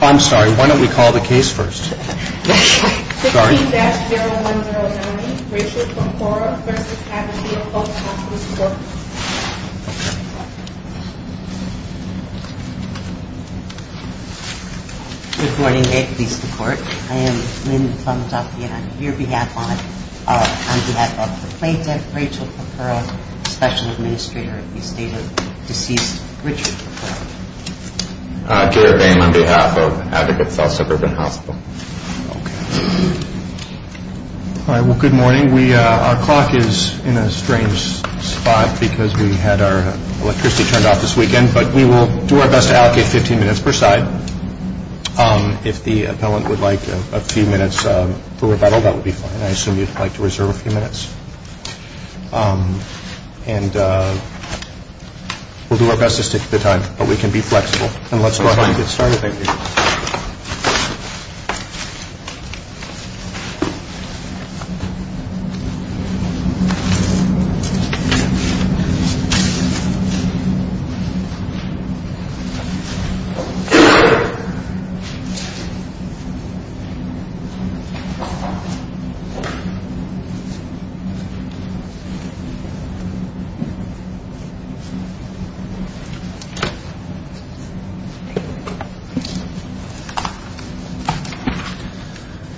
I'm sorry, why don't we call the case first? 15-0109, Rachel Purpura v, Advocated Health Hospitals Corp. Good morning, Advocates to Court. I am Lynn Plumduffy and I'm here on behalf of the plaintiff, Rachel Purpura, Special Administrator at the estate of deceased Richard Purpura. I'm here on behalf of Advocates Health Suburban Hospital. Good morning. Our clock is in a strange spot because we had our electricity turned off this weekend, but we will do our best to allocate 15 minutes per side. If the appellant would like a few minutes for rebuttal, that would be fine. I assume you'd like to reserve a minute. And we'll do our best to stick to the time, but we can be flexible. And let's go ahead and get started.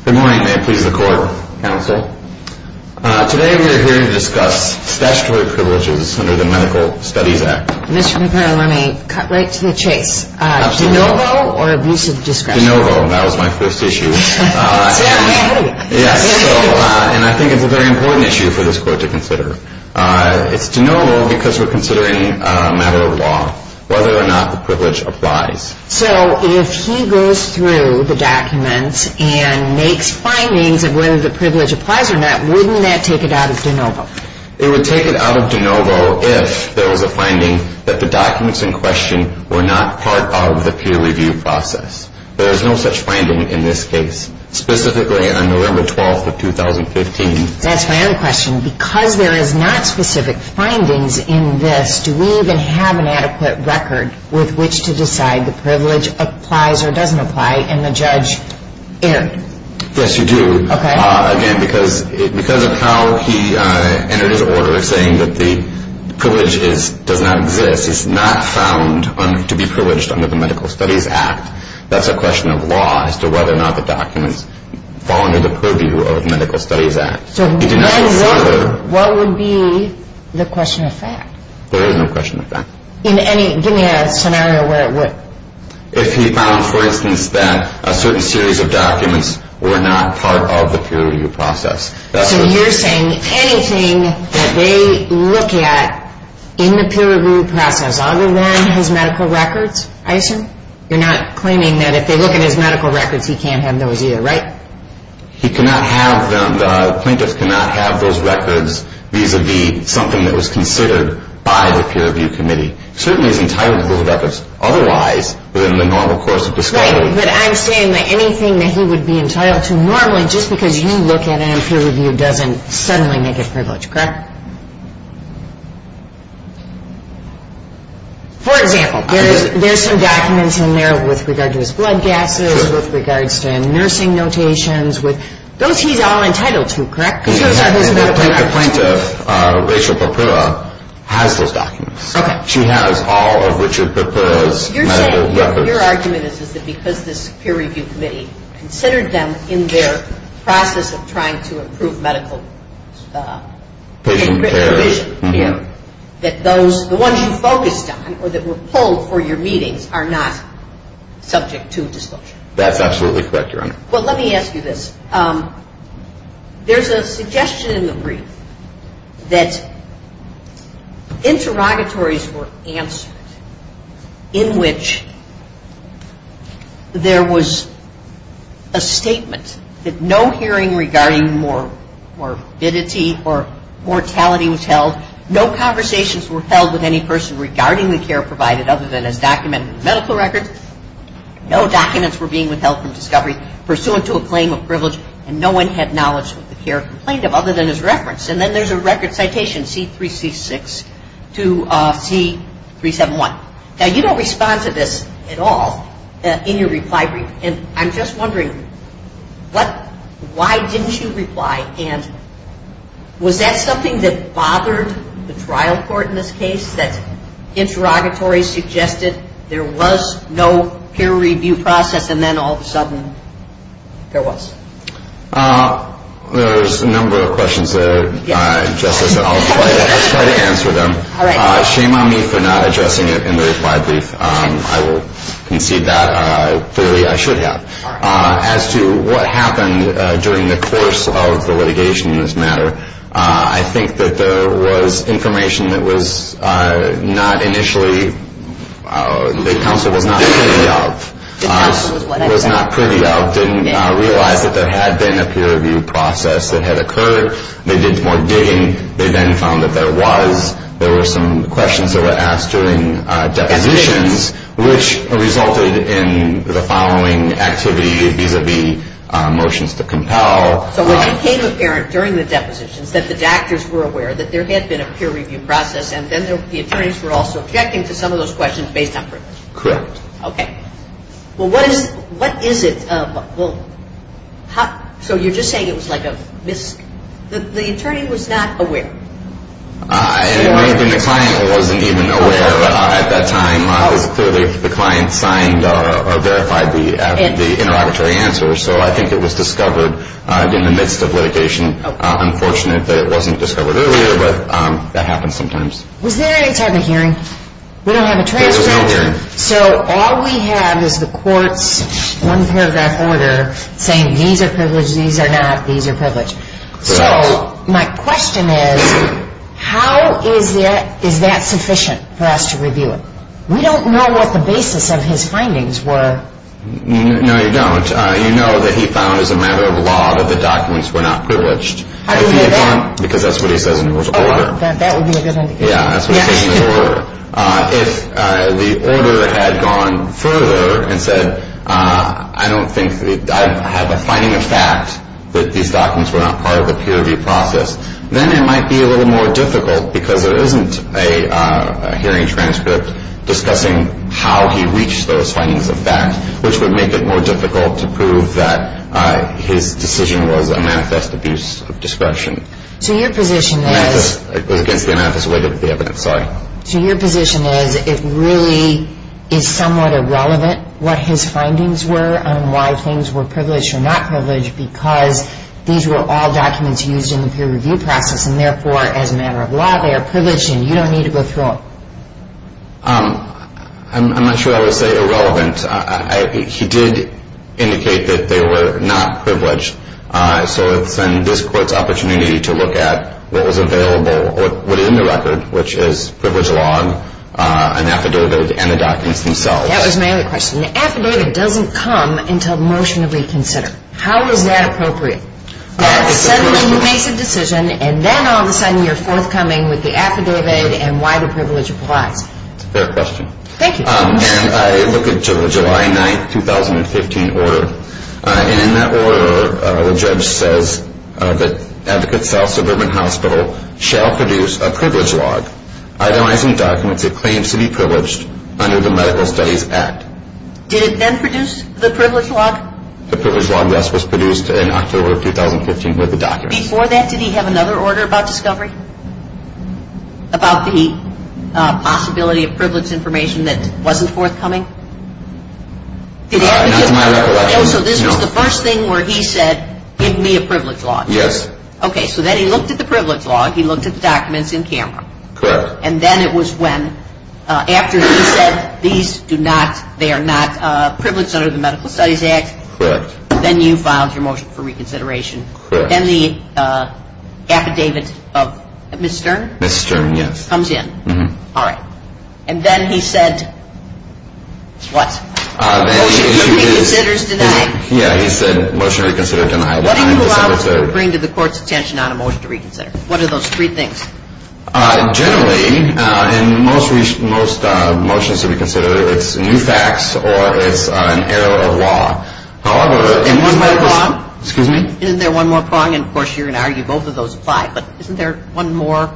Good morning. May it please the Court. Counsel. Today we are here to discuss statutory privileges under the Medical Studies Act. Commissioner Purpura, let me cut right to the chase. Absolutely. De novo or abusive discretion? De novo. That was my first issue. And I think it's a very important issue for this Court to consider. It's de novo because we're considering a matter of law, whether or not the privilege applies. So if he goes through the documents and makes findings of whether the privilege applies or not, wouldn't that take it out of de novo? It would take it out of de novo if there was a finding that the documents in question were not part of the peer review process. There is no such finding in this case, specifically on November 12th of 2015. That's my other question. Because there is not specific findings in this, do we even have an adequate record with which to decide the privilege applies or doesn't apply in the judge area? Yes, you do. Again, because of how he entered his order saying that the privilege does not exist, is not found to be privileged under the Medical Studies Act, that's a question of law as to whether or not the documents fall under the purview of the Medical Studies Act. So then what would be the question of fact? There is no question of fact. Give me a scenario where it would. If he found, for instance, that a certain series of documents were not part of the peer review process. So you're saying anything that they look at in the peer review process other than his medical records, I assume? You're not claiming that if they look at his medical records, he can't have those either, right? He cannot have them. The plaintiff cannot have those records vis-a-vis something that was considered by the peer review committee. Certainly he's entitled to those records. Otherwise, within the normal course of discovery... Right, but I'm saying that anything that he would be entitled to normally, just because you look at it in peer review, doesn't suddenly make it privileged, correct? For example, there's some documents in there with regard to his blood gases, with regards to nursing notations. Those he's all entitled to, correct? The plaintiff, Rachel Papua, has those documents. She has all of Richard Papua's medical records. You're saying, your argument is that because this peer review committee considered them in their process of trying to improve medical... Patient care. That those, the ones you focused on, or that were pulled for your meetings, are not subject to disclosure? That's absolutely correct, Your Honor. Well, let me ask you this. There's a suggestion in the brief that interrogatories were answered in which there was a statement that no hearing regarding morbidity or mortality was held. No conversations were held with any person regarding the care provided, other than as documented in the medical records. No documents were being withheld from discovery, pursuant to a claim of privilege. And no one had knowledge of the care complained of, other than as referenced. And then there's a record citation, C3C6 to C371. Now, you don't respond to this at all in your reply brief. And I'm just wondering, why didn't you reply? And was that something that bothered the trial court in this case, that interrogatories suggested there was no peer review process, and then all of a sudden, there was? There's a number of questions there, Justice. I'll try to answer them. Shame on me for not addressing it in the reply brief. I will concede that. Clearly, I should have. As to what happened during the course of the litigation in this matter, I think that there was information that was not initially, the counsel was not privy of, didn't realize that there had been a peer review process that had occurred. They did more digging. They then found that there was, there were some questions that were asked during depositions, which resulted in the following activity vis-a-vis motions to compel. So it became apparent during the depositions that the doctors were aware that there had been a peer review process, and then the attorneys were also objecting to some of those questions based on privilege? Correct. Okay. Well, what is it, so you're just saying it was like a mis, the attorney was not aware? It might have been the client wasn't even aware at that time, because clearly the client signed or verified the interrogatory answer. So I think it was discovered in the midst of litigation. Unfortunate that it wasn't discovered earlier, but that happens sometimes. Was there any type of hearing? We don't have a transcript. There was no hearing. So all we have is the court's one paragraph order saying these are privileged, these are not, these are privileged. So my question is, how is that sufficient for us to review it? We don't know what the basis of his findings were. No, you don't. You know that he found as a matter of law that the documents were not privileged. How do you know that? Because that's what he says in his order. That would be a good indication. Yeah, that's what he says in his order. If the order had gone further and said, I don't think that I have a finding of fact that these documents were not part of the peer review process, then it might be a little more difficult because there isn't a hearing transcript discussing how he reached those findings of fact, which would make it more difficult to prove that his decision was a manifest abuse of discretion. So your position is... It was against the immanifest weight of the evidence, sorry. So your position is it really is somewhat irrelevant what his findings were and why things were privileged or not privileged because these were all documents used in the peer review process and therefore, as a matter of law, they are privileged and you don't need to go through them. I'm not sure I would say irrelevant. He did indicate that they were not privileged. So it's in this court's opportunity to look at what was available, what is in the record, which is privilege log, an affidavit, and the documents themselves. That was my other question. The affidavit doesn't come until motion to reconsider. How is that appropriate? That suddenly he makes a decision and then all of a sudden you're forthcoming with the affidavit and why the privilege applies. Fair question. Thank you. I look at the July 9, 2015 order and in that order, the judge says that Advocate South Suburban Hospital shall produce a privilege log itemizing documents that claim to be privileged under the Medical Studies Act. Did it then produce the privilege log? The privilege log, yes, was produced in October of 2015 with the documents. Before that, did he have another order about discovery? About the possibility of privilege information that wasn't forthcoming? Not to my recollection, no. So this was the first thing where he said, give me a privilege log? Yes. Okay, so then he looked at the privilege log, he looked at the documents in camera. Correct. And then it was when, after he said these do not, they are not privileged under the Medical Studies Act. Correct. Then you filed your motion for reconsideration. Correct. Then the affidavit of Ms. Stern? Ms. Stern, yes. Comes in. All right. And then he said, what? Motion to reconsider is denied. Yeah, he said motion to reconsider denied on December 3rd. What do you allow to bring to the court's attention if it's not a motion to reconsider? What are those three things? Generally, in most motions to reconsider, it's new facts or it's an error of law. However, in most medical... Error of law? Excuse me? Isn't there one more prong? And of course, you're going to argue both of those apply. But isn't there one more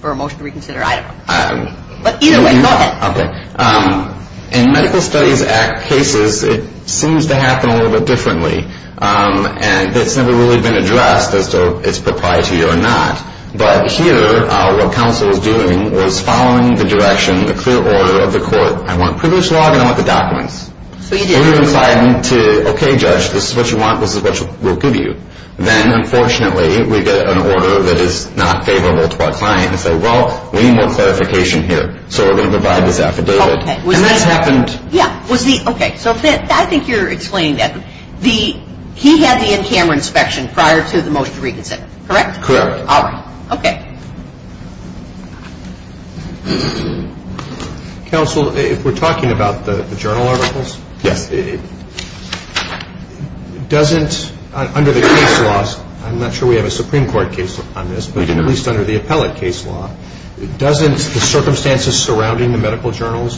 for a motion to reconsider? I don't know. But either way, go ahead. Okay. In Medical Studies Act cases, it seems to happen a little bit differently. And it's never really been addressed as to if it's proprietary or not. But here, what counsel was doing was following the direction, the clear order of the court. I want privilege law and I want the documents. So you decided to... Okay, judge, this is what you want, this is what we'll give you. Then, unfortunately, we get an order that is not favorable to our client and say, well, we need more clarification here. So we're going to provide this affidavit. Okay. And that's happened... Yeah. Okay, so I think you're explaining that. He had the in-camera inspection prior to the motion to reconsider. Correct? Correct. All right. Okay. Counsel, if we're talking about the journal articles... Yes. Doesn't... Under the case laws, I'm not sure we have a Supreme Court case on this, but at least under the appellate case law, doesn't the circumstances surrounding the medical journals,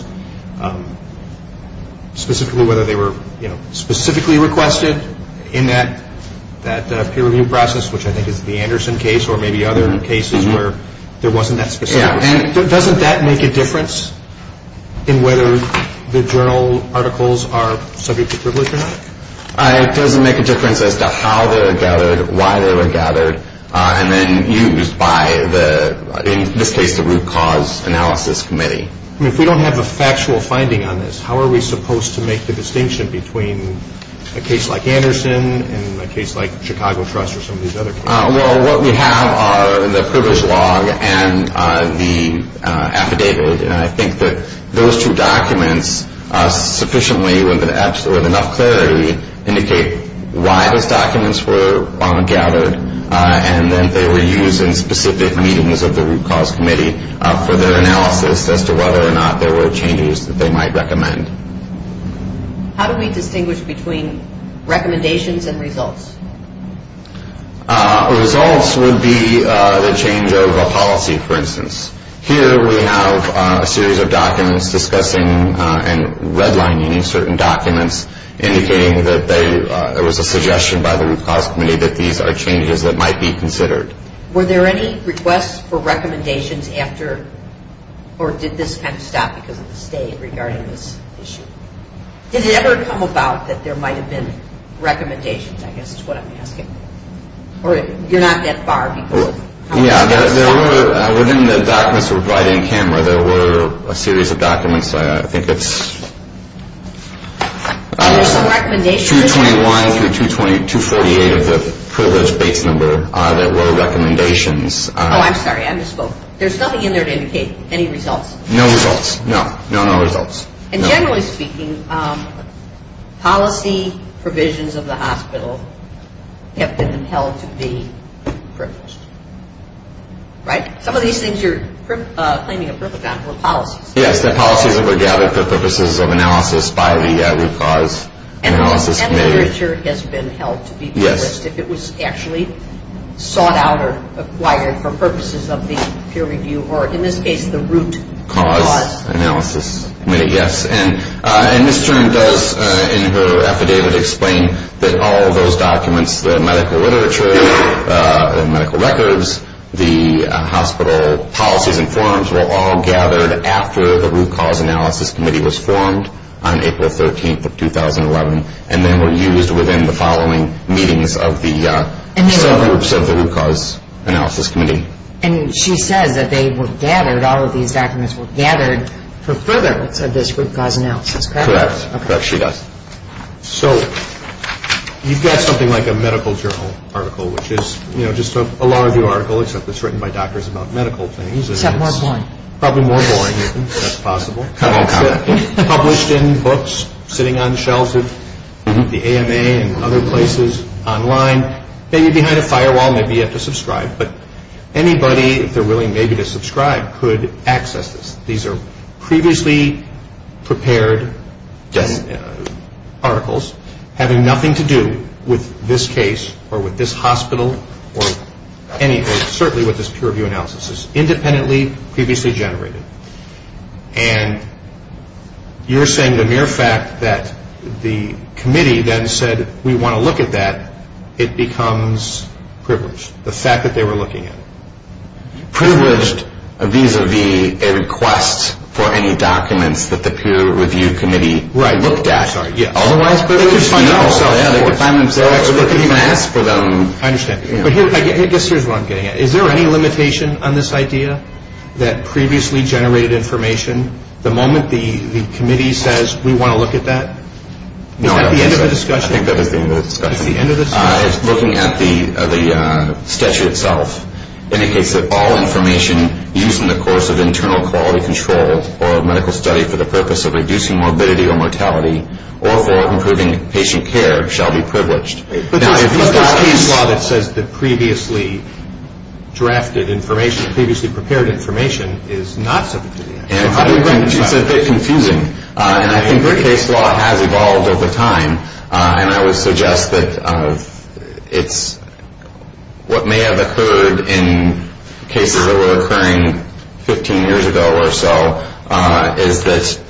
specifically whether they were, you know, a peer review process, which I think is the Anderson case, or maybe other cases where there wasn't that specific... Yeah. And doesn't that make a difference in whether the journal articles are subject to privilege or not? It doesn't make a difference as to how they were gathered, why they were gathered, and then used by the, in this case, the Root Cause Analysis Committee. I mean, if we don't have a factual finding on this, how are we supposed to make the distinction between a case like Anderson and a case like Chicago Trust or some of these other cases? Well, what we have are the privilege log and the affidavit, and I think that those two documents, sufficiently with enough clarity, indicate why those documents were gathered, and then they were used in specific meetings of the Root Cause Committee for their analysis as to whether or not there were changes that they might recommend. How do we distinguish between recommendations and results? Results would be the change of a policy, for instance. Here we have a series of documents discussing and redlining certain documents indicating that there was a suggestion by the Root Cause Committee that these are changes that might be considered. Were there any requests for recommendations after, or did this kind of stop because of the state regarding this issue? Did it ever come about that there might have been recommendations, I guess is what I'm asking? Or you're not that far? Yeah, within the documents we're providing, there were a series of documents, I think it's... Are there some recommendations? 221 through 248 of the privilege base number, there were recommendations. Oh, I'm sorry, I misspoke. There's nothing in there to indicate any results? No results, no, no results. And generally speaking, policy provisions of the hospital have been held to be privileged, right? Some of these things you're claiming a privilege on were policies. Yes, the policies that were gathered for purposes of analysis by the Root Cause. And the literature has been held to be privileged if it was actually sought out or acquired for purposes of the peer review, or in this case, the Root Cause. Root Cause Analysis Committee, yes. And Ms. Tern does, in her affidavit, explain that all of those documents, the medical literature, medical records, the hospital policies and forms were all gathered after the Root Cause Analysis Committee was formed on April 13th of 2011, and then were used within the following meetings of the subgroups of the Root Cause Analysis Committee. And she says that they were gathered, all of these documents were gathered for furtherance of this Root Cause Analysis Committee. Correct. Correct, she does. So, you've got something like a medical journal article, which is, you know, just a law review article, except it's written by doctors about medical things. Except more boring. Probably more boring, if that's possible. Published in books, sitting on the shelves of the AMA and other places online, maybe behind a firewall, maybe you have to subscribe. But anybody, if they're willing maybe to subscribe, could access this. These are previously prepared articles, having nothing to do with this case, or with this hospital, or anything, certainly with this peer review analysis. It's independently, previously generated. And you're saying the mere fact that the committee then said, we want to look at that, it becomes privileged. The fact that they were looking at it. Privileged vis-a-vis a request for any documents that the Peer Review Committee looked at. Right, I'm sorry, yeah. Otherwise, they could just find it themselves. They could even ask for them. I understand. But here's what I'm getting at. Is there any limitation on this idea, that previously generated information, the moment the committee says, we want to look at that? Is that the end of the discussion? No, I think that is the end of the discussion. It's looking at the statute itself. It indicates that all information used in the course of internal quality control, or medical study for the purpose of reducing morbidity or mortality, or for improving patient care, shall be privileged. But the case law that says that previously drafted information, previously prepared information, is not subject to the act. It's a bit confusing. And I think the case law has evolved over time. And I would suggest that what may have occurred in cases that were occurring 15 years ago or so, is that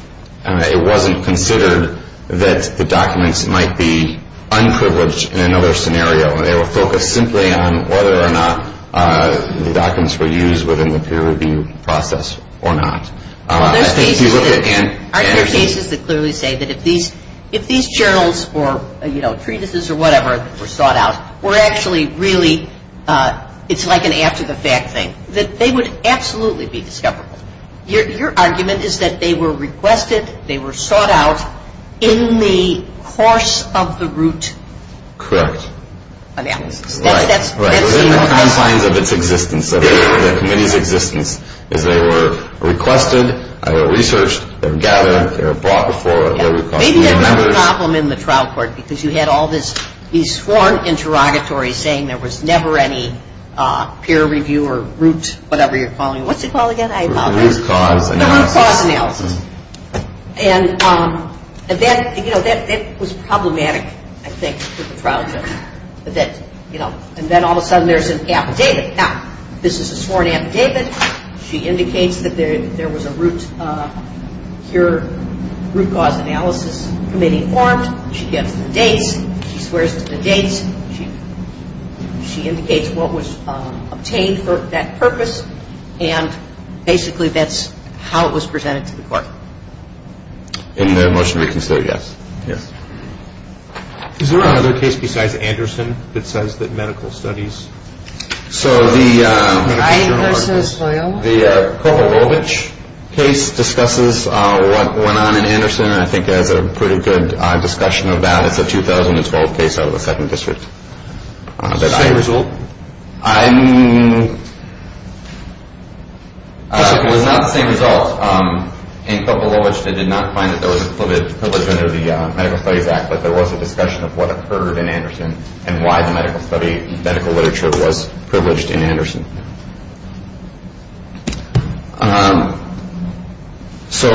it wasn't considered that the documents might be unprivileged in another scenario. They were focused simply on whether or not the documents were used within the peer review process or not. Are there cases that clearly say that if these journals or treatises or whatever were sought out, it's like an after-the-fact thing, that they would absolutely be discoverable? Your argument is that they were requested, they were sought out in the course of the root analysis? Correct. Right. Within the confines of its existence, within the committee's existence, is they were requested, they were researched, they were gathered, they were brought before, they were requested by members. Maybe there was a problem in the trial court because you had all these sworn interrogatories saying there was never any peer review or root whatever you're calling it. What's it called again? The root cause analysis. And that was problematic, I think, for the trial judge. And then all of a sudden there's an affidavit. Now, this is a sworn affidavit. She indicates that there was a root root cause analysis committee formed. She gives the dates. She swears to the dates. She indicates what was obtained for that purpose. And basically that's how it was presented to the court. In the motion to reconsider, yes. Is there another case besides Anderson that says that medical studies So the Kovalovich case discusses what went on in Anderson and I think has a pretty good discussion of that. It's a 2012 case out of the 2nd District. Same result? I mean It was not the same result. Kovalovich did not find that there was a privilege under the Medical Studies Act but there was a discussion of what occurred in Anderson and why the medical literature was privileged in Anderson. So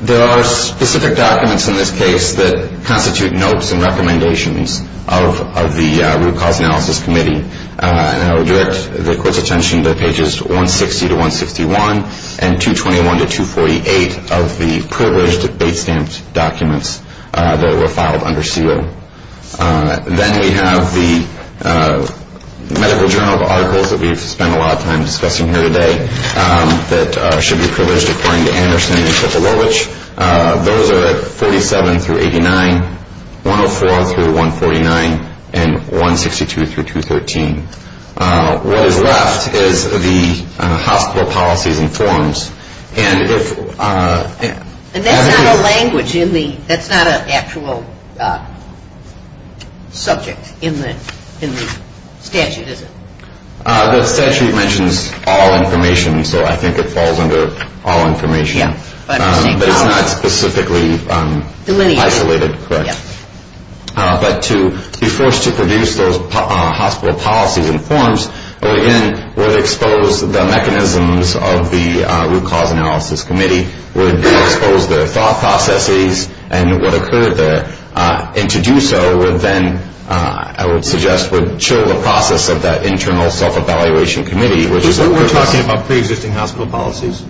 there are specific documents in this case that constitute notes and recommendations of the Root Cause Analysis Committee and I would direct the court's attention to pages 160-161 and 221-248 of the privileged date stamped documents that were filed under seal. Then we have the medical journal articles that we've spent a lot of time discussing here today that should be privileged according to Anderson and Kovalovich. Those are at 161-149 and 162-213 What is left is the hospital policies and forms And that's not a language in the that's not an actual subject in the statute is it? The statute mentions all information so I think it falls under all information but it's not specifically Isolated But to be forced to produce those hospital policies and forms would expose the mechanisms of the Root Cause Analysis Committee would expose their thought processes and what occurred there and to do so would then I would suggest would chill the process of that internal self-evaluation committee We're talking about pre-existing hospital policies?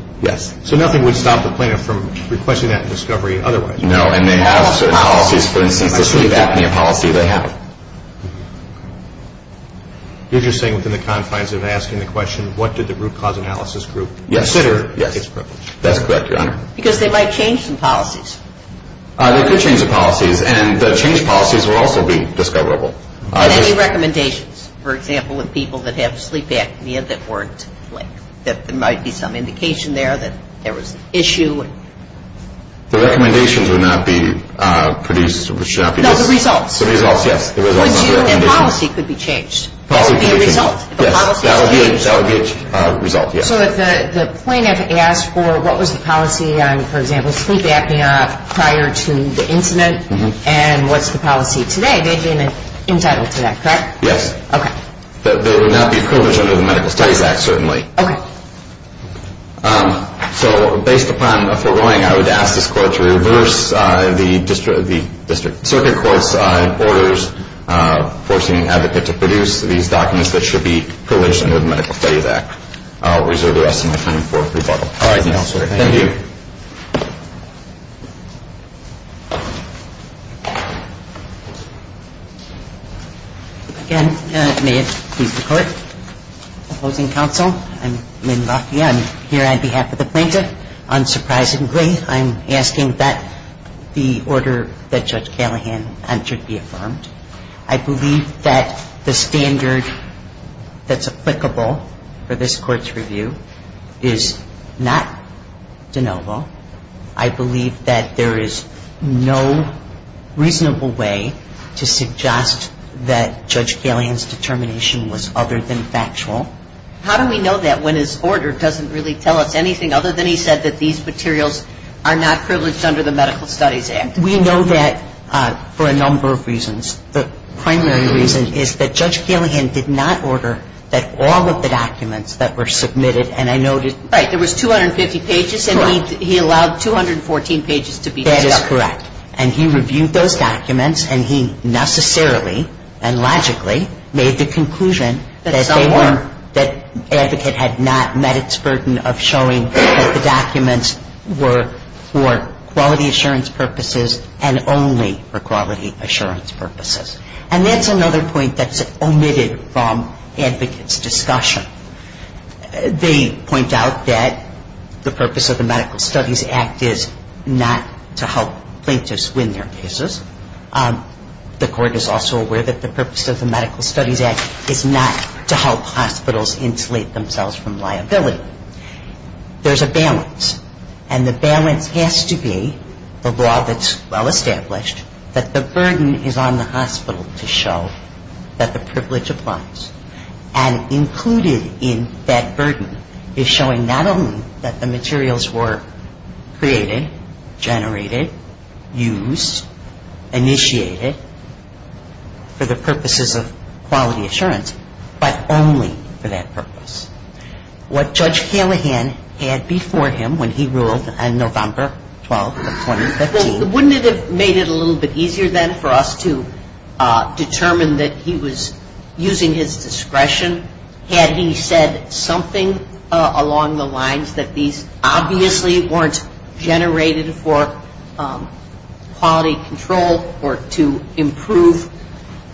So nothing would stop the plaintiff from requesting that discovery otherwise? No, and they have certain policies for instance the sleep apnea policy they have You're just saying within the confines of asking the question what did the Root Cause Analysis Group consider its privilege? That's correct, Your Honor. Because they might change some policies They could change the policies and the change policies would also be discoverable And any recommendations for example with people that have sleep apnea that there might be some indication there that there was an issue The recommendations would not be produced No, the results And policy could be changed That would be a result So if the plaintiff asked for what was the policy on for example sleep apnea prior to the incident and what's the policy today they'd be entitled to that, correct? Yes, they would not be privileged under the Medical Studies Act certainly So based upon the foregoing I would ask this Court to reverse the Circuit Court's orders forcing an advocate to produce these documents that should be privileged under the Medical Studies Act I'll reserve the rest of my time for rebuttal Thank you Again, may it please the Court Opposing counsel, I'm Lynn Lafayette I'm here on behalf of the plaintiff Unsurprisingly, I'm asking that the order that Judge Callahan entered be affirmed I believe that the standard that's applicable for this Court's review is not de novo I believe that there is no reasonable way to suggest that Judge Callahan's determination was other than factual How do we know that when his order doesn't really tell us anything other than he said that these materials are not privileged under the Medical Studies Act? We know that for a number of reasons The primary reason is that Judge Callahan did not order that all of the documents that were submitted Right, there was 250 pages and he allowed 214 pages to be developed That is correct, and he reviewed those documents and he necessarily and logically made the conclusion that advocate had not met its burden of showing that the documents were for quality assurance purposes and only for quality assurance purposes And that's another point that's omitted from advocate's discussion They point out that the purpose of the Medical Studies Act is not to help plaintiffs win their cases The Court is also aware that the purpose of the Medical Studies Act is not to help hospitals insulate themselves from liability There's a balance and the balance has to be the law that's well established that the burden is on the hospital to show that the privilege applies and included in that burden is showing not only that the materials were created generated, used, initiated for the purposes of quality assurance but only for that purpose What Judge Callahan had before him when he ruled on November 12, 2015 Wouldn't it have made it a little bit easier then for us to determine that he was using his discretion had he said something along the lines that these obviously weren't generated for quality control or to improve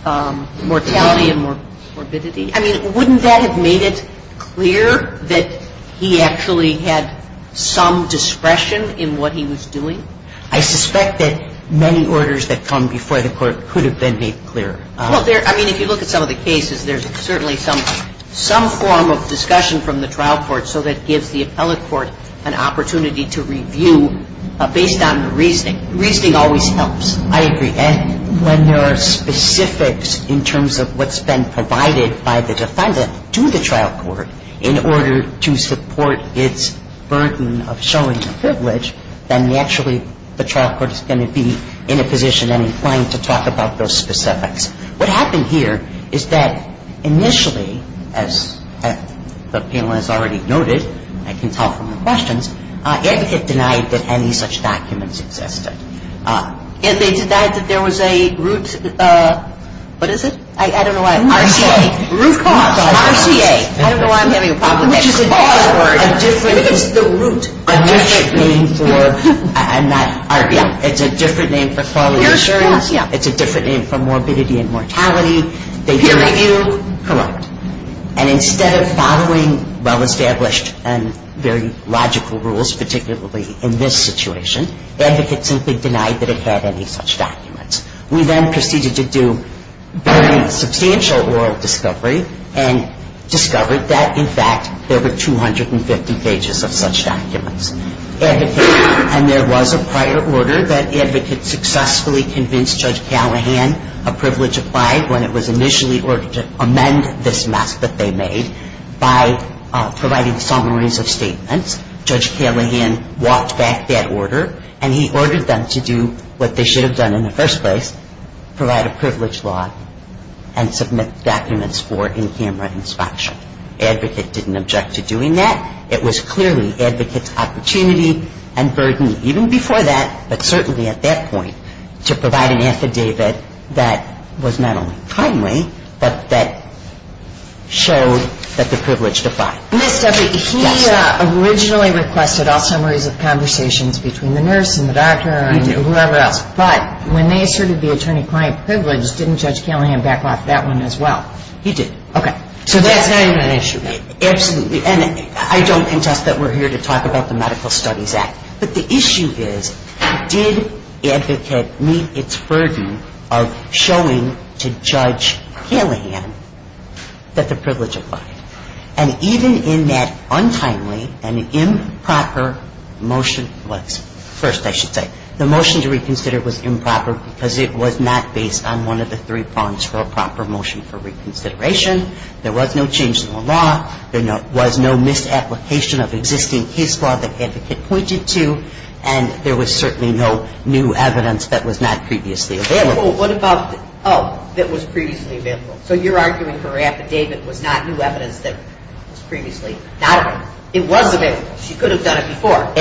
mortality and morbidity I mean, wouldn't that have made it clear that he actually had some discretion in what he was doing I suspect that many orders that come before the Court could have been made clearer I mean, if you look at some of the cases there's certainly some form of discussion from the trial court so that gives the appellate court an opportunity to review based on the reasoning. Reasoning always helps I agree. And when there are specifics in terms of what's been provided by the defendant to the trial court in order to support its burden of showing privilege then naturally the trial court is going to be in a position and inclined to talk about those specifics What happened here is that initially as the panel has already noted I can tell from the questions Advocate denied that any such documents existed and they denied that there was a root what is it? I don't know what I'm saying RCA. I don't know why I'm having a problem What is the root? It's a different name for quality assurance It's a different name for morbidity and mortality They didn't review. Correct. And instead of following well-established and very logical rules particularly in this situation, Advocate simply denied that it had any such documents. We then proceeded to do very substantial oral discovery and discovered that in fact there were 250 pages of such documents and there was a prior order that Advocate successfully convinced Judge Callahan a privilege applied when it was initially ordered to amend this mess that they made by providing summaries of statements. Judge Callahan walked back that order and he ordered them to do what they should have done in the first place provide a privilege law and submit documents for in-camera inspection. Advocate didn't object to doing that It was clearly Advocate's opportunity and burden even before that but certainly at that point to provide an affidavit that was not only timely but that showed that the privilege defied. He originally requested all summaries of conversations between the nurse and the doctor but when they asserted the attorney-client privilege didn't Judge Callahan back off that one as well? He did. So that's not even an issue. I don't contest that we're here to talk about the Medical Studies Act but the issue is did Advocate meet its burden of showing to Judge Callahan that the privilege applied and even in that untimely and improper motion the motion to reconsider was improper because it was not based on one of the three prongs for a proper motion for reconsideration there was no change in the law, there was no misapplication of existing case law that Advocate pointed to and there was certainly no new evidence that was not previously available. So you're arguing her affidavit was not new evidence that was previously available. It was available. She could have done it before.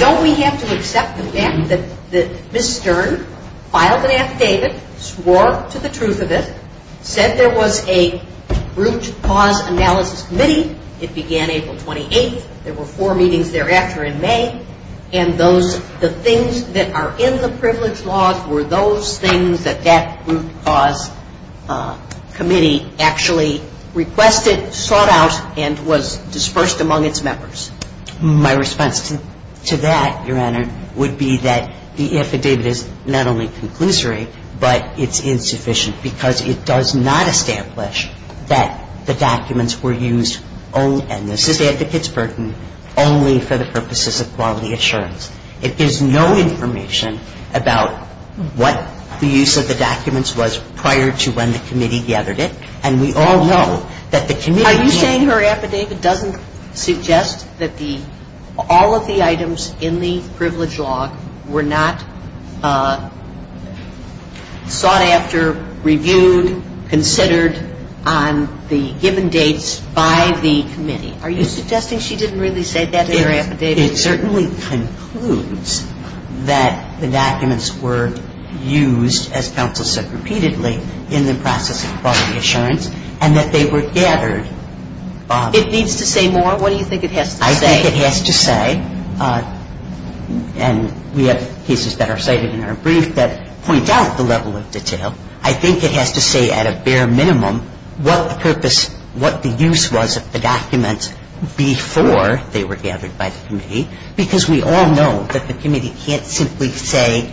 Don't we have to accept the fact that Ms. Stern filed an affidavit, swore to the truth of it said there was a root cause analysis committee, it began April 28th there were four meetings thereafter in May and the things that are in the privilege laws were those things that that root cause committee actually requested sought out and was dispersed among its members. My response to that, Your Honor would be that the affidavit is not only conclusory but it's insufficient because it does not establish that the documents were used and this is Advocate's burden only for the purposes of quality assurance. There's no information about what the use of the documents was prior to when the committee gathered it and we all know that the committee Are you saying her affidavit doesn't suggest that all of the items in the privilege law were not sought after, reviewed, considered on the given dates by the committee? Are you suggesting she didn't really say that in her affidavit? It certainly concludes that the documents were used as counsel said repeatedly in the process of quality assurance and that they were gathered It needs to say more? What do you think it has to say? I think it has to say and we have cases that are cited in our brief that point out the level of detail. I think it has to say at a bare minimum what the purpose, what the use was of the documents before they were gathered by the committee because we all know that the committee can't simply say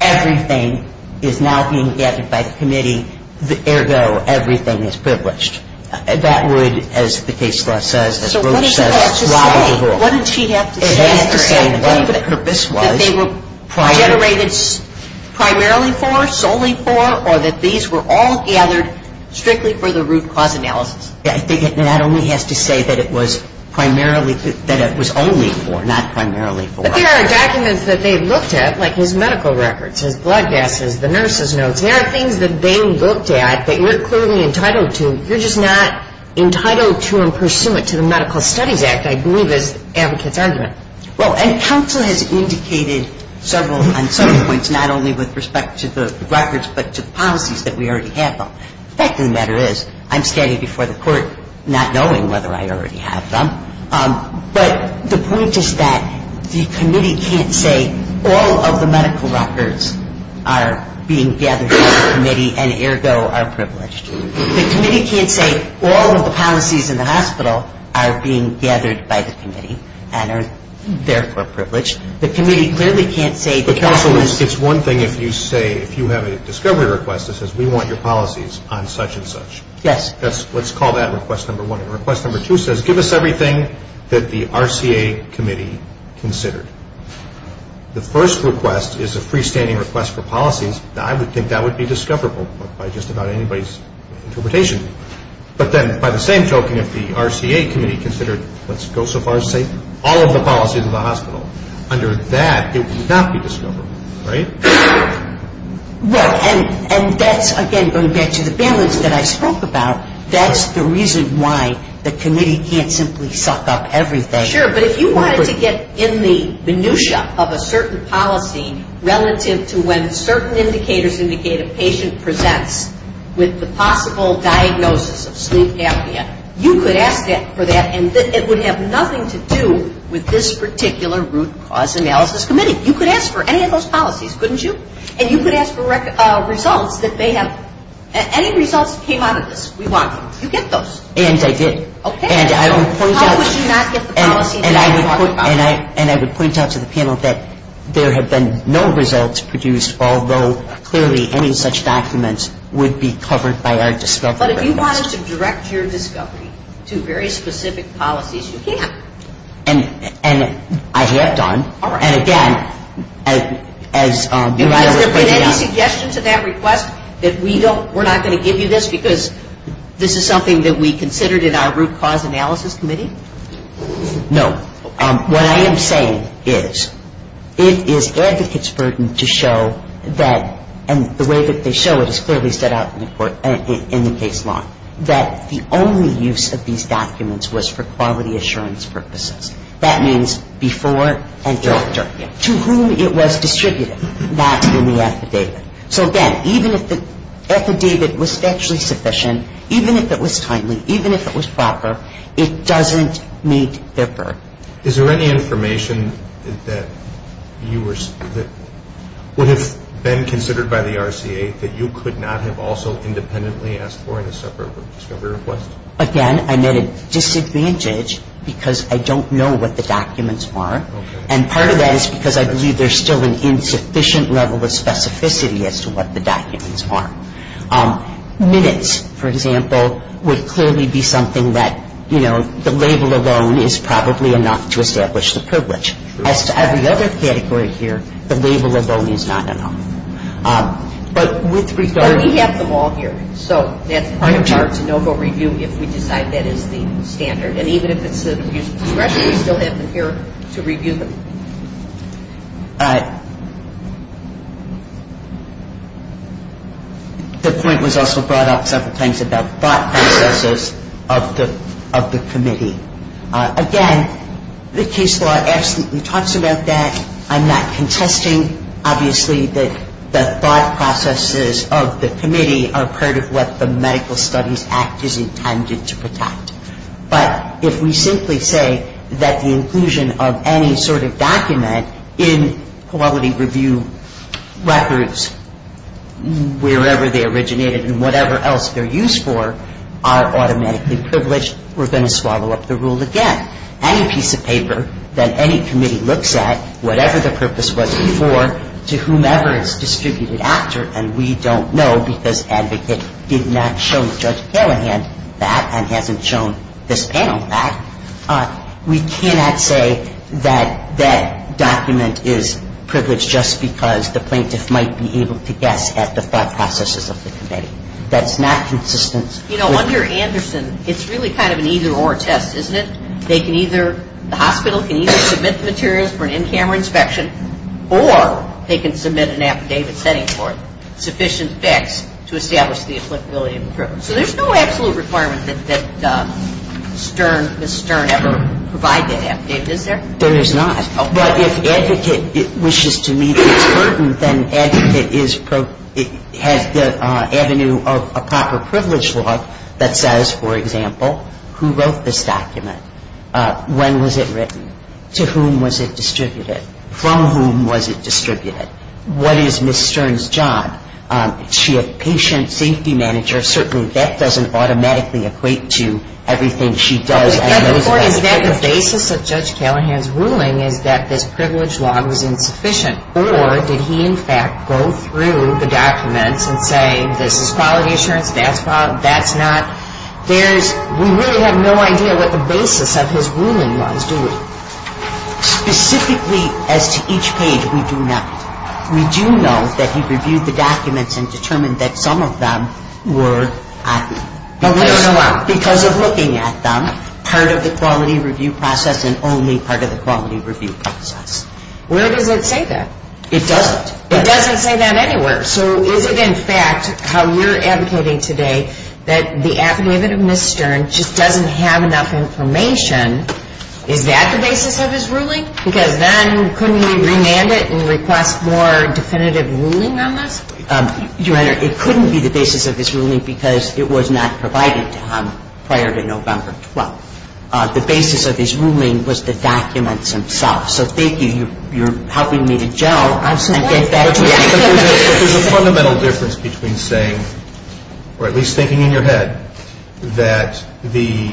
everything is now being gathered by the committee, ergo everything is privileged. That would, as the case law says, as Roach says, lie with the law. So what does she have to say? It has to say that the purpose was that they were generated primarily for, solely for, or that these were all gathered strictly for the root cause analysis. I think it not only has to say that it was primarily, that it was only for not primarily for. But there are documents that they looked at like his medical records, his blood gases, the nurse's notes there are things that they looked at that you're clearly entitled to. You're just not entitled to and pursuant to the Medical Studies Act, I believe is the advocate's argument. Well, and counsel has indicated several points, not only with respect to the records but to the policies that we already have them. The fact of the matter is I'm standing before the court not knowing whether I already have them. But the point is that the committee can't say all of the medical records are being gathered by the committee and ergo are privileged. The committee can't say all of the policies in the hospital are being gathered by the committee and are therefore privileged. The committee clearly can't say The counsel, it's one thing if you say, if you have a discovery request that says we want your policies on such and such. Yes. Let's call that request number one. And request number two says give us everything that the RCA committee considered. The first request is a freestanding request for policies. I would think that would be discoverable by just about anybody's interpretation. But then by the same token, if the RCA committee considered let's go so far as to say all of the policies in the hospital under that, it would not be discoverable. Right? Right. And that's again going back to the balance that I spoke about, that's the reason why the committee can't simply suck up everything. Sure. But if you wanted to get in the minutia of a certain policy relative to when certain indicators indicate a patient presents with the possible diagnosis of sleep that would have nothing to do with this particular root cause analysis committee. You could ask for any of those policies, couldn't you? And you could ask for results that may have any results that came out of this. We want them. You get those. And I did. Okay. And I would point out How would you not get the policy that I'm talking about? And I would point out to the panel that there had been no results produced, although clearly any such documents would be covered by our discovery request. But if you wanted to And I have done. All right. And again, as I would point out. Has there been any suggestion to that request that we don't, we're not going to give you this because this is something that we considered in our root cause analysis committee? No. What I am saying is, it is advocates' burden to show that, and the way that they show it is clearly set out in the court, in the case law, that the only use of these documents was for quality assurance purposes. That means before and after. To whom it was distributed, not in the affidavit. So again, even if the affidavit was actually sufficient, even if it was timely, even if it was proper, it doesn't meet their burden. Is there any information that you were, that would have been considered by the RCA that you could not have also independently asked for in a separate discovery request? Again, I met a disadvantage because I don't know what the documents are. And part of that is because I believe there is still an insufficient level of specificity as to what the documents are. Minutes, for example, would clearly be something that, you know, the label alone is probably enough to establish the privilege. As to every other category here, the label alone is not enough. But with regard to... But we have them all here. So that's part of our de novo review if we decide that is the standard. And even if it's the use of discretion, we still have them here to review them. The point was also brought up several times about thought processes of the committee. Again, the case law absolutely talks about that. I'm not contesting, obviously, that the thought processes of the committee are part of what the Medical Studies Act is intended to protect. But if we simply say that the inclusion of any sort of document in quality review records wherever they originated and whatever else they're used for are automatically privileged, we're going to swallow up the rule again. Any piece of paper that any committee looks at, whatever the purpose was before, to whomever it's distributed after, and we don't know because Advocate did not show Judge Callahan that and hasn't shown this panel that, we cannot say that that document is privileged just because the plaintiff might be able to guess at the thought processes of the committee. That's not consistent with... You know, under Anderson, it's really kind of an either-or test, isn't it? They can either, the hospital can either submit the materials for an in-camera inspection or they can submit an affidavit setting for it, sufficient facts to establish the applicability of the privilege. So there's no absolute requirement that Ms. Stern ever provide that affidavit, is there? There is not. But if Advocate wishes to meet its burden, then Advocate has the avenue of a proper privilege law that says, for example, who wrote this document? When was it written? To whom was it distributed? From whom was it distributed? What is Ms. Stern's job? Is she a patient safety manager? Certainly that doesn't automatically equate to everything she does. Is that the basis of Judge Callahan's ruling, is that this privilege law was insufficient? Or did he, in fact, go through the documents and say, this is quality assurance, that's not... We really have no idea what the basis of his ruling was, do we? Specifically as to each page, we do not. We do know that he reviewed the documents and determined that some of them were... Because of looking at them, part of the quality review process and only part of the quality review process. Where does it say that? It doesn't. It doesn't say that anywhere. So is it in fact how we're advocating today that the affidavit of Ms. Stern just doesn't have enough information? Is that the basis of his ruling? Because then couldn't we remand it and request more definitive ruling on this? Your Honor, it couldn't be the basis of his ruling because it was not provided to him prior to November 12th. The basis of his ruling was the documents themselves. So thank you, you're helping me to gel. There's a fundamental difference between saying or at least thinking in your head that the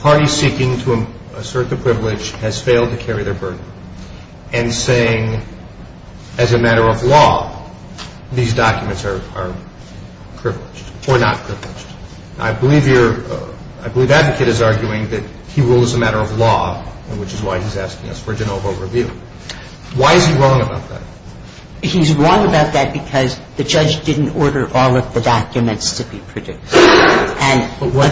party seeking to assert the privilege has failed to carry their burden and saying as a matter of law these documents are privileged or not privileged. I believe advocate is arguing that he rules as a matter of law which is why he's asking us for a general vote review. Why is he wrong about that? He's wrong about that because the judge didn't order all of the documents to be produced. But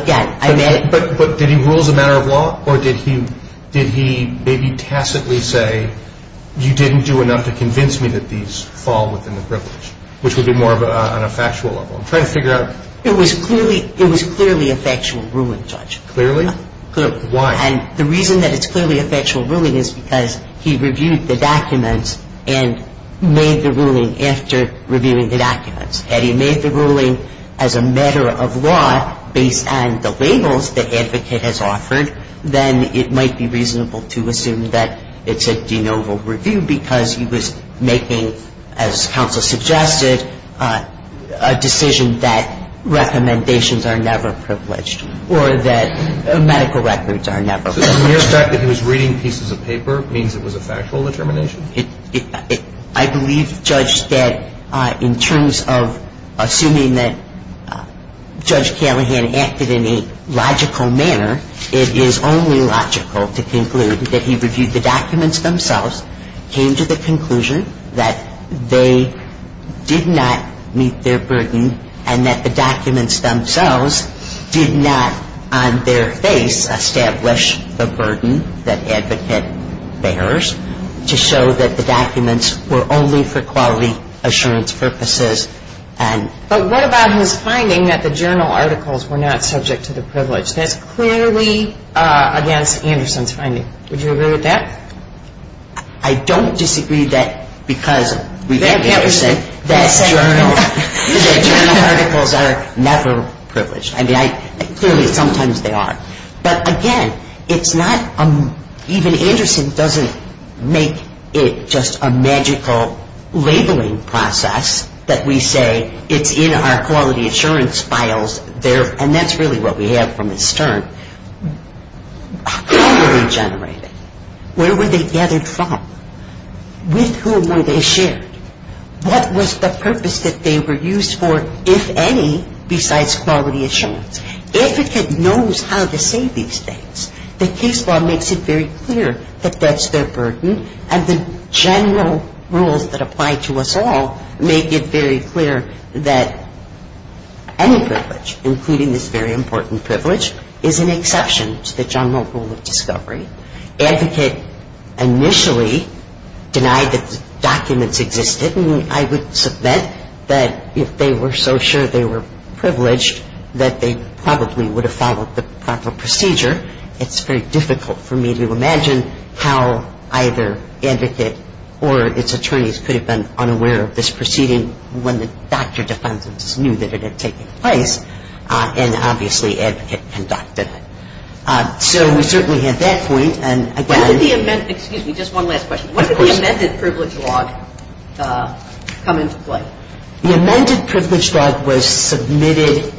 did he rule as a matter of law or did he maybe tacitly say you didn't do enough to convince me that these fall within the privilege which would be more on a factual level. It was clearly a factual ruling, Judge. And the reason that it's clearly a factual ruling is because he reviewed the documents and made the ruling after reviewing the documents. Had he made the ruling as a matter of law based on the labels that advocate has offered then it might be reasonable to assume that it's a de novo review because he was making as counsel suggested a decision that recommendations are never privileged or that medical records are never privileged. So the mere fact that he was reading pieces of paper means it was a factual determination? I believe, Judge, that in terms of assuming that Judge Callahan acted in a logical manner, it is only logical to conclude that he reviewed the documents themselves came to the conclusion that they did not meet their burden and that the documents themselves did not on their face establish the burden that advocate bears to show that the documents were only for quality assurance purposes. But what about his finding that the journal articles were not subject to the privilege? That's clearly against Anderson's finding. Would you agree with that? I don't disagree that because we met Anderson that journal articles are never privileged. Clearly sometimes they are. But again, it's not even Anderson doesn't make it just a magical labeling process that we say it's in our quality assurance files and that's really what we have from his turn. How were they generated? Where were they gathered from? With whom were they shared? What was the purpose that they were used for, if any, besides quality assurance? Advocate knows how to say these things. The case law makes it very clear that that's their burden and the general rules that apply to us all make it very clear that any privilege, including this very important privilege, is an exception to the general rule of discovery. Advocate initially denied that the documents existed and I would submit that if they were so sure they were privileged that they probably would have followed the proper procedure. It's very difficult for me to imagine how either Advocate or its attorneys could have been unaware of this proceeding when the doctor defendants knew that it had taken place and obviously Advocate conducted it. So we certainly have that point and again Excuse me, just one last question. When did the amended privilege log come into play? The amended privilege log was submitted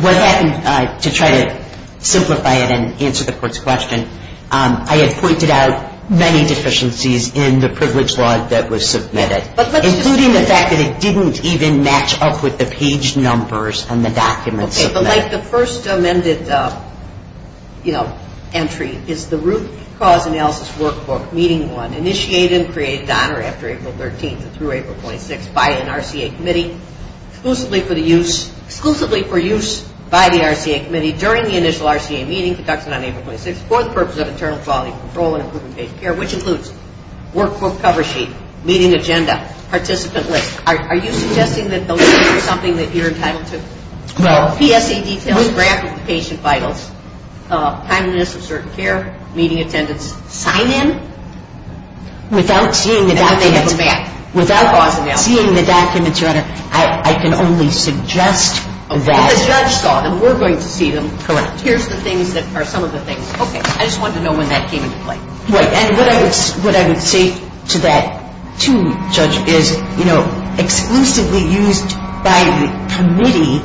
what happened to try to simplify it and answer the Court's question I had pointed out many deficiencies in the privilege log that was submitted, including the fact that it didn't even match up with the page numbers on the documents. Okay, but like the first amended entry is the root cause analysis workbook meeting one initiated and created after April 13th through April 26th by an RCA committee exclusively for use by the RCA committee during the initial RCA meeting conducted on April 26th for the purpose of internal quality control and improvement of patient care, which includes workbook cover sheet, meeting agenda, participant list are you suggesting that those things are something that you're entitled to? PSA details, grant notification vitals, timeliness of certain care meeting attendance, sign in without seeing the documents I can only suggest that Here's the things that are some of the things Okay, I just wanted to know when that came into play What I would say to that too, Judge is, you know, exclusively used by the committee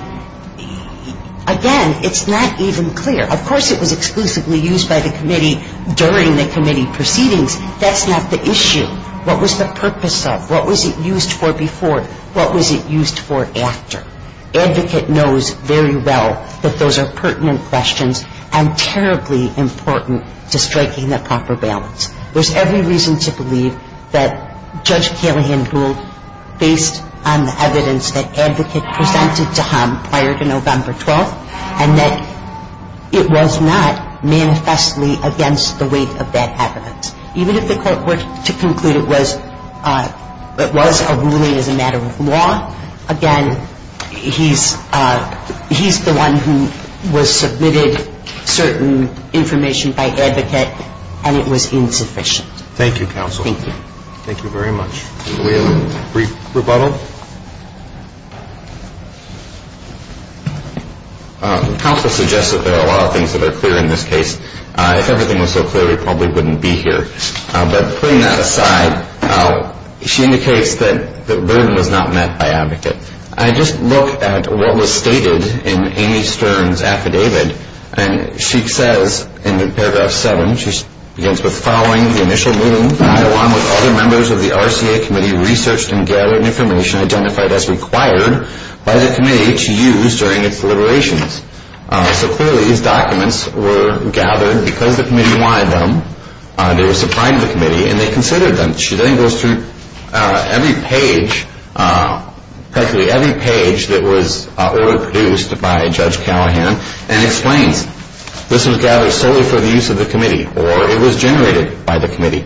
Again, it's not even clear. Of course it was exclusively used by the committee during the committee proceedings That's not the issue. What was the purpose of What was it used for before? What was it used for after? Advocate knows very well that those are pertinent questions and terribly important to striking the proper balance There's every reason to believe that Judge Calahan ruled based on the evidence that Advocate presented to him prior to November 12th and that it was not manifestly against the weight of that evidence Even if the court were to conclude it was it was a ruling as a matter of law Again, he's the one who was submitted certain information by Advocate and it was insufficient Thank you, Counsel. Thank you very much We have a brief rebuttal Counsel suggests that there are a lot of things that are clear in this case If everything was so clear, we probably wouldn't be here But putting that aside She indicates that the burden was not met by Advocate I just looked at what was stated in Amy Stern's affidavit and she says in paragraph 7 She begins with following the initial ruling along with other members of the RCA committee researched and gathered information identified as required by the committee to use during its deliberations So clearly these documents were gathered because the committee wanted them They were supplied to the committee and they considered them She then goes through every page practically every page that was order produced by Judge Callahan and explains this was gathered solely for the use of the committee or it was generated by the committee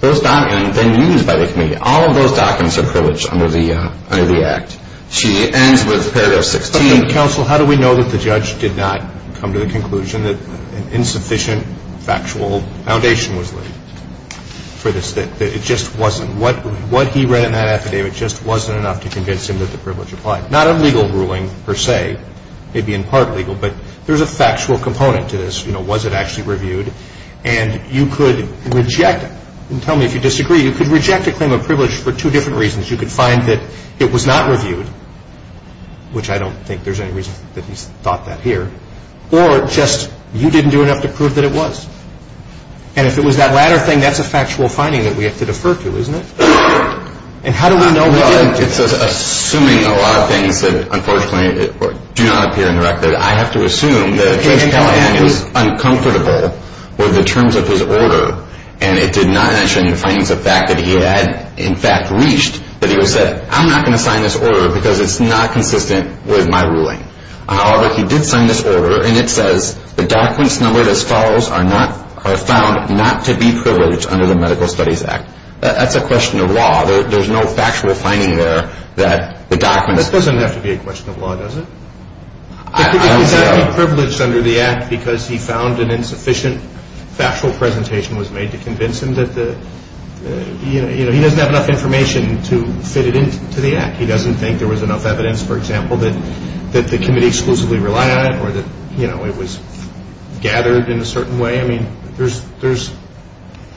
Those documents then used by the committee All of those documents are privileged under the Act She ends with paragraph 16 Counsel, how do we know that the judge did not come to the conclusion that an insufficient factual foundation was laid for this, that it just wasn't What he read in that affidavit just wasn't enough to convince him that the privilege applied Not a legal ruling per se, maybe in part legal but there's a factual component to this, you know, was it actually reviewed and you could reject it Tell me if you disagree, you could reject a claim of privilege for two different reasons You could find that it was not reviewed which I don't think there's any reason that he's thought that here or just you didn't do enough to prove that it was and if it was that latter thing, that's a factual finding that we have to defer to, isn't it It's assuming a lot of things that unfortunately do not appear in the record I have to assume that Judge Callahan was uncomfortable with the terms of his order and it did not mention the findings of fact that he had in fact reached that he said, I'm not going to sign this order because it's not consistent with my ruling However, he did sign this order and it says the documents numbered as follows are found not to be privileged under the Medical Studies Act That's a question of law, there's no factual finding there That doesn't have to be a question of law, does it He can't be privileged under the Act because he found an insufficient factual presentation was made to convince him that the He doesn't have enough information to fit it into the Act He doesn't think there was enough evidence, for example that the committee exclusively relied on it or that it was gathered in a certain way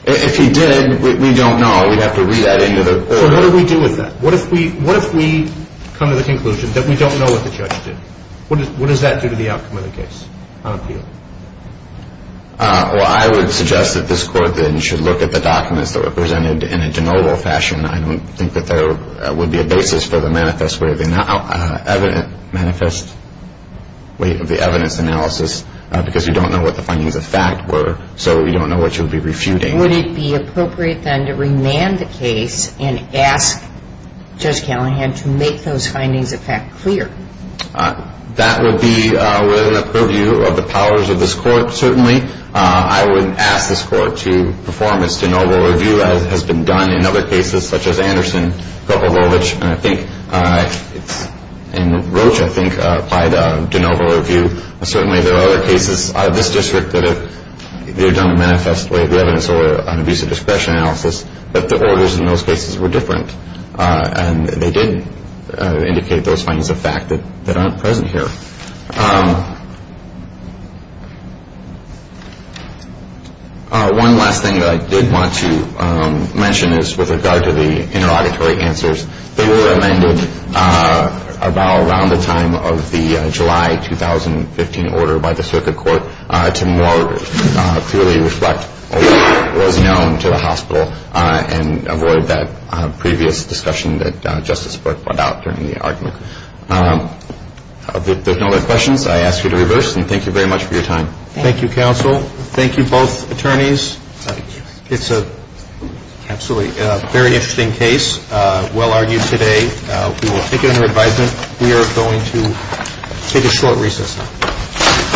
If he did, we don't know We'd have to read that into the court What do we do with that? What if we come to the conclusion that we don't know what the judge did? What does that do to the outcome of the case on appeal? I would suggest that this court then should look at the documents that were presented in a general fashion I don't think that there would be a basis for the manifest of the evidence analysis because we don't know what the findings of fact were so we don't know what you'd be refuting Would it be appropriate then to remand the case and ask Judge Callahan to make those findings of fact clear? That would be within the purview of the powers of this court Certainly I would ask this court to perform its de novo review as has been done in other cases such as Anderson, Kovalovich and Roche, I think, applied a de novo review Certainly there are other cases out of this district that have done a manifest way of the evidence or an abuse of discretion analysis but the orders in those cases were different and they did indicate those findings of fact that aren't present here One last thing that I did want to mention is with regard to the interrogatory answers they were amended around the time of the July 2015 order by the circuit court to more clearly reflect what was known to the hospital and avoid that previous discussion that Justice Burke brought up during the argument If there are no other questions I ask you to reverse and thank you very much for your time Thank you counsel Thank you both attorneys It's a very interesting case Well argued today We will take it under advisement We are going to take a short recess now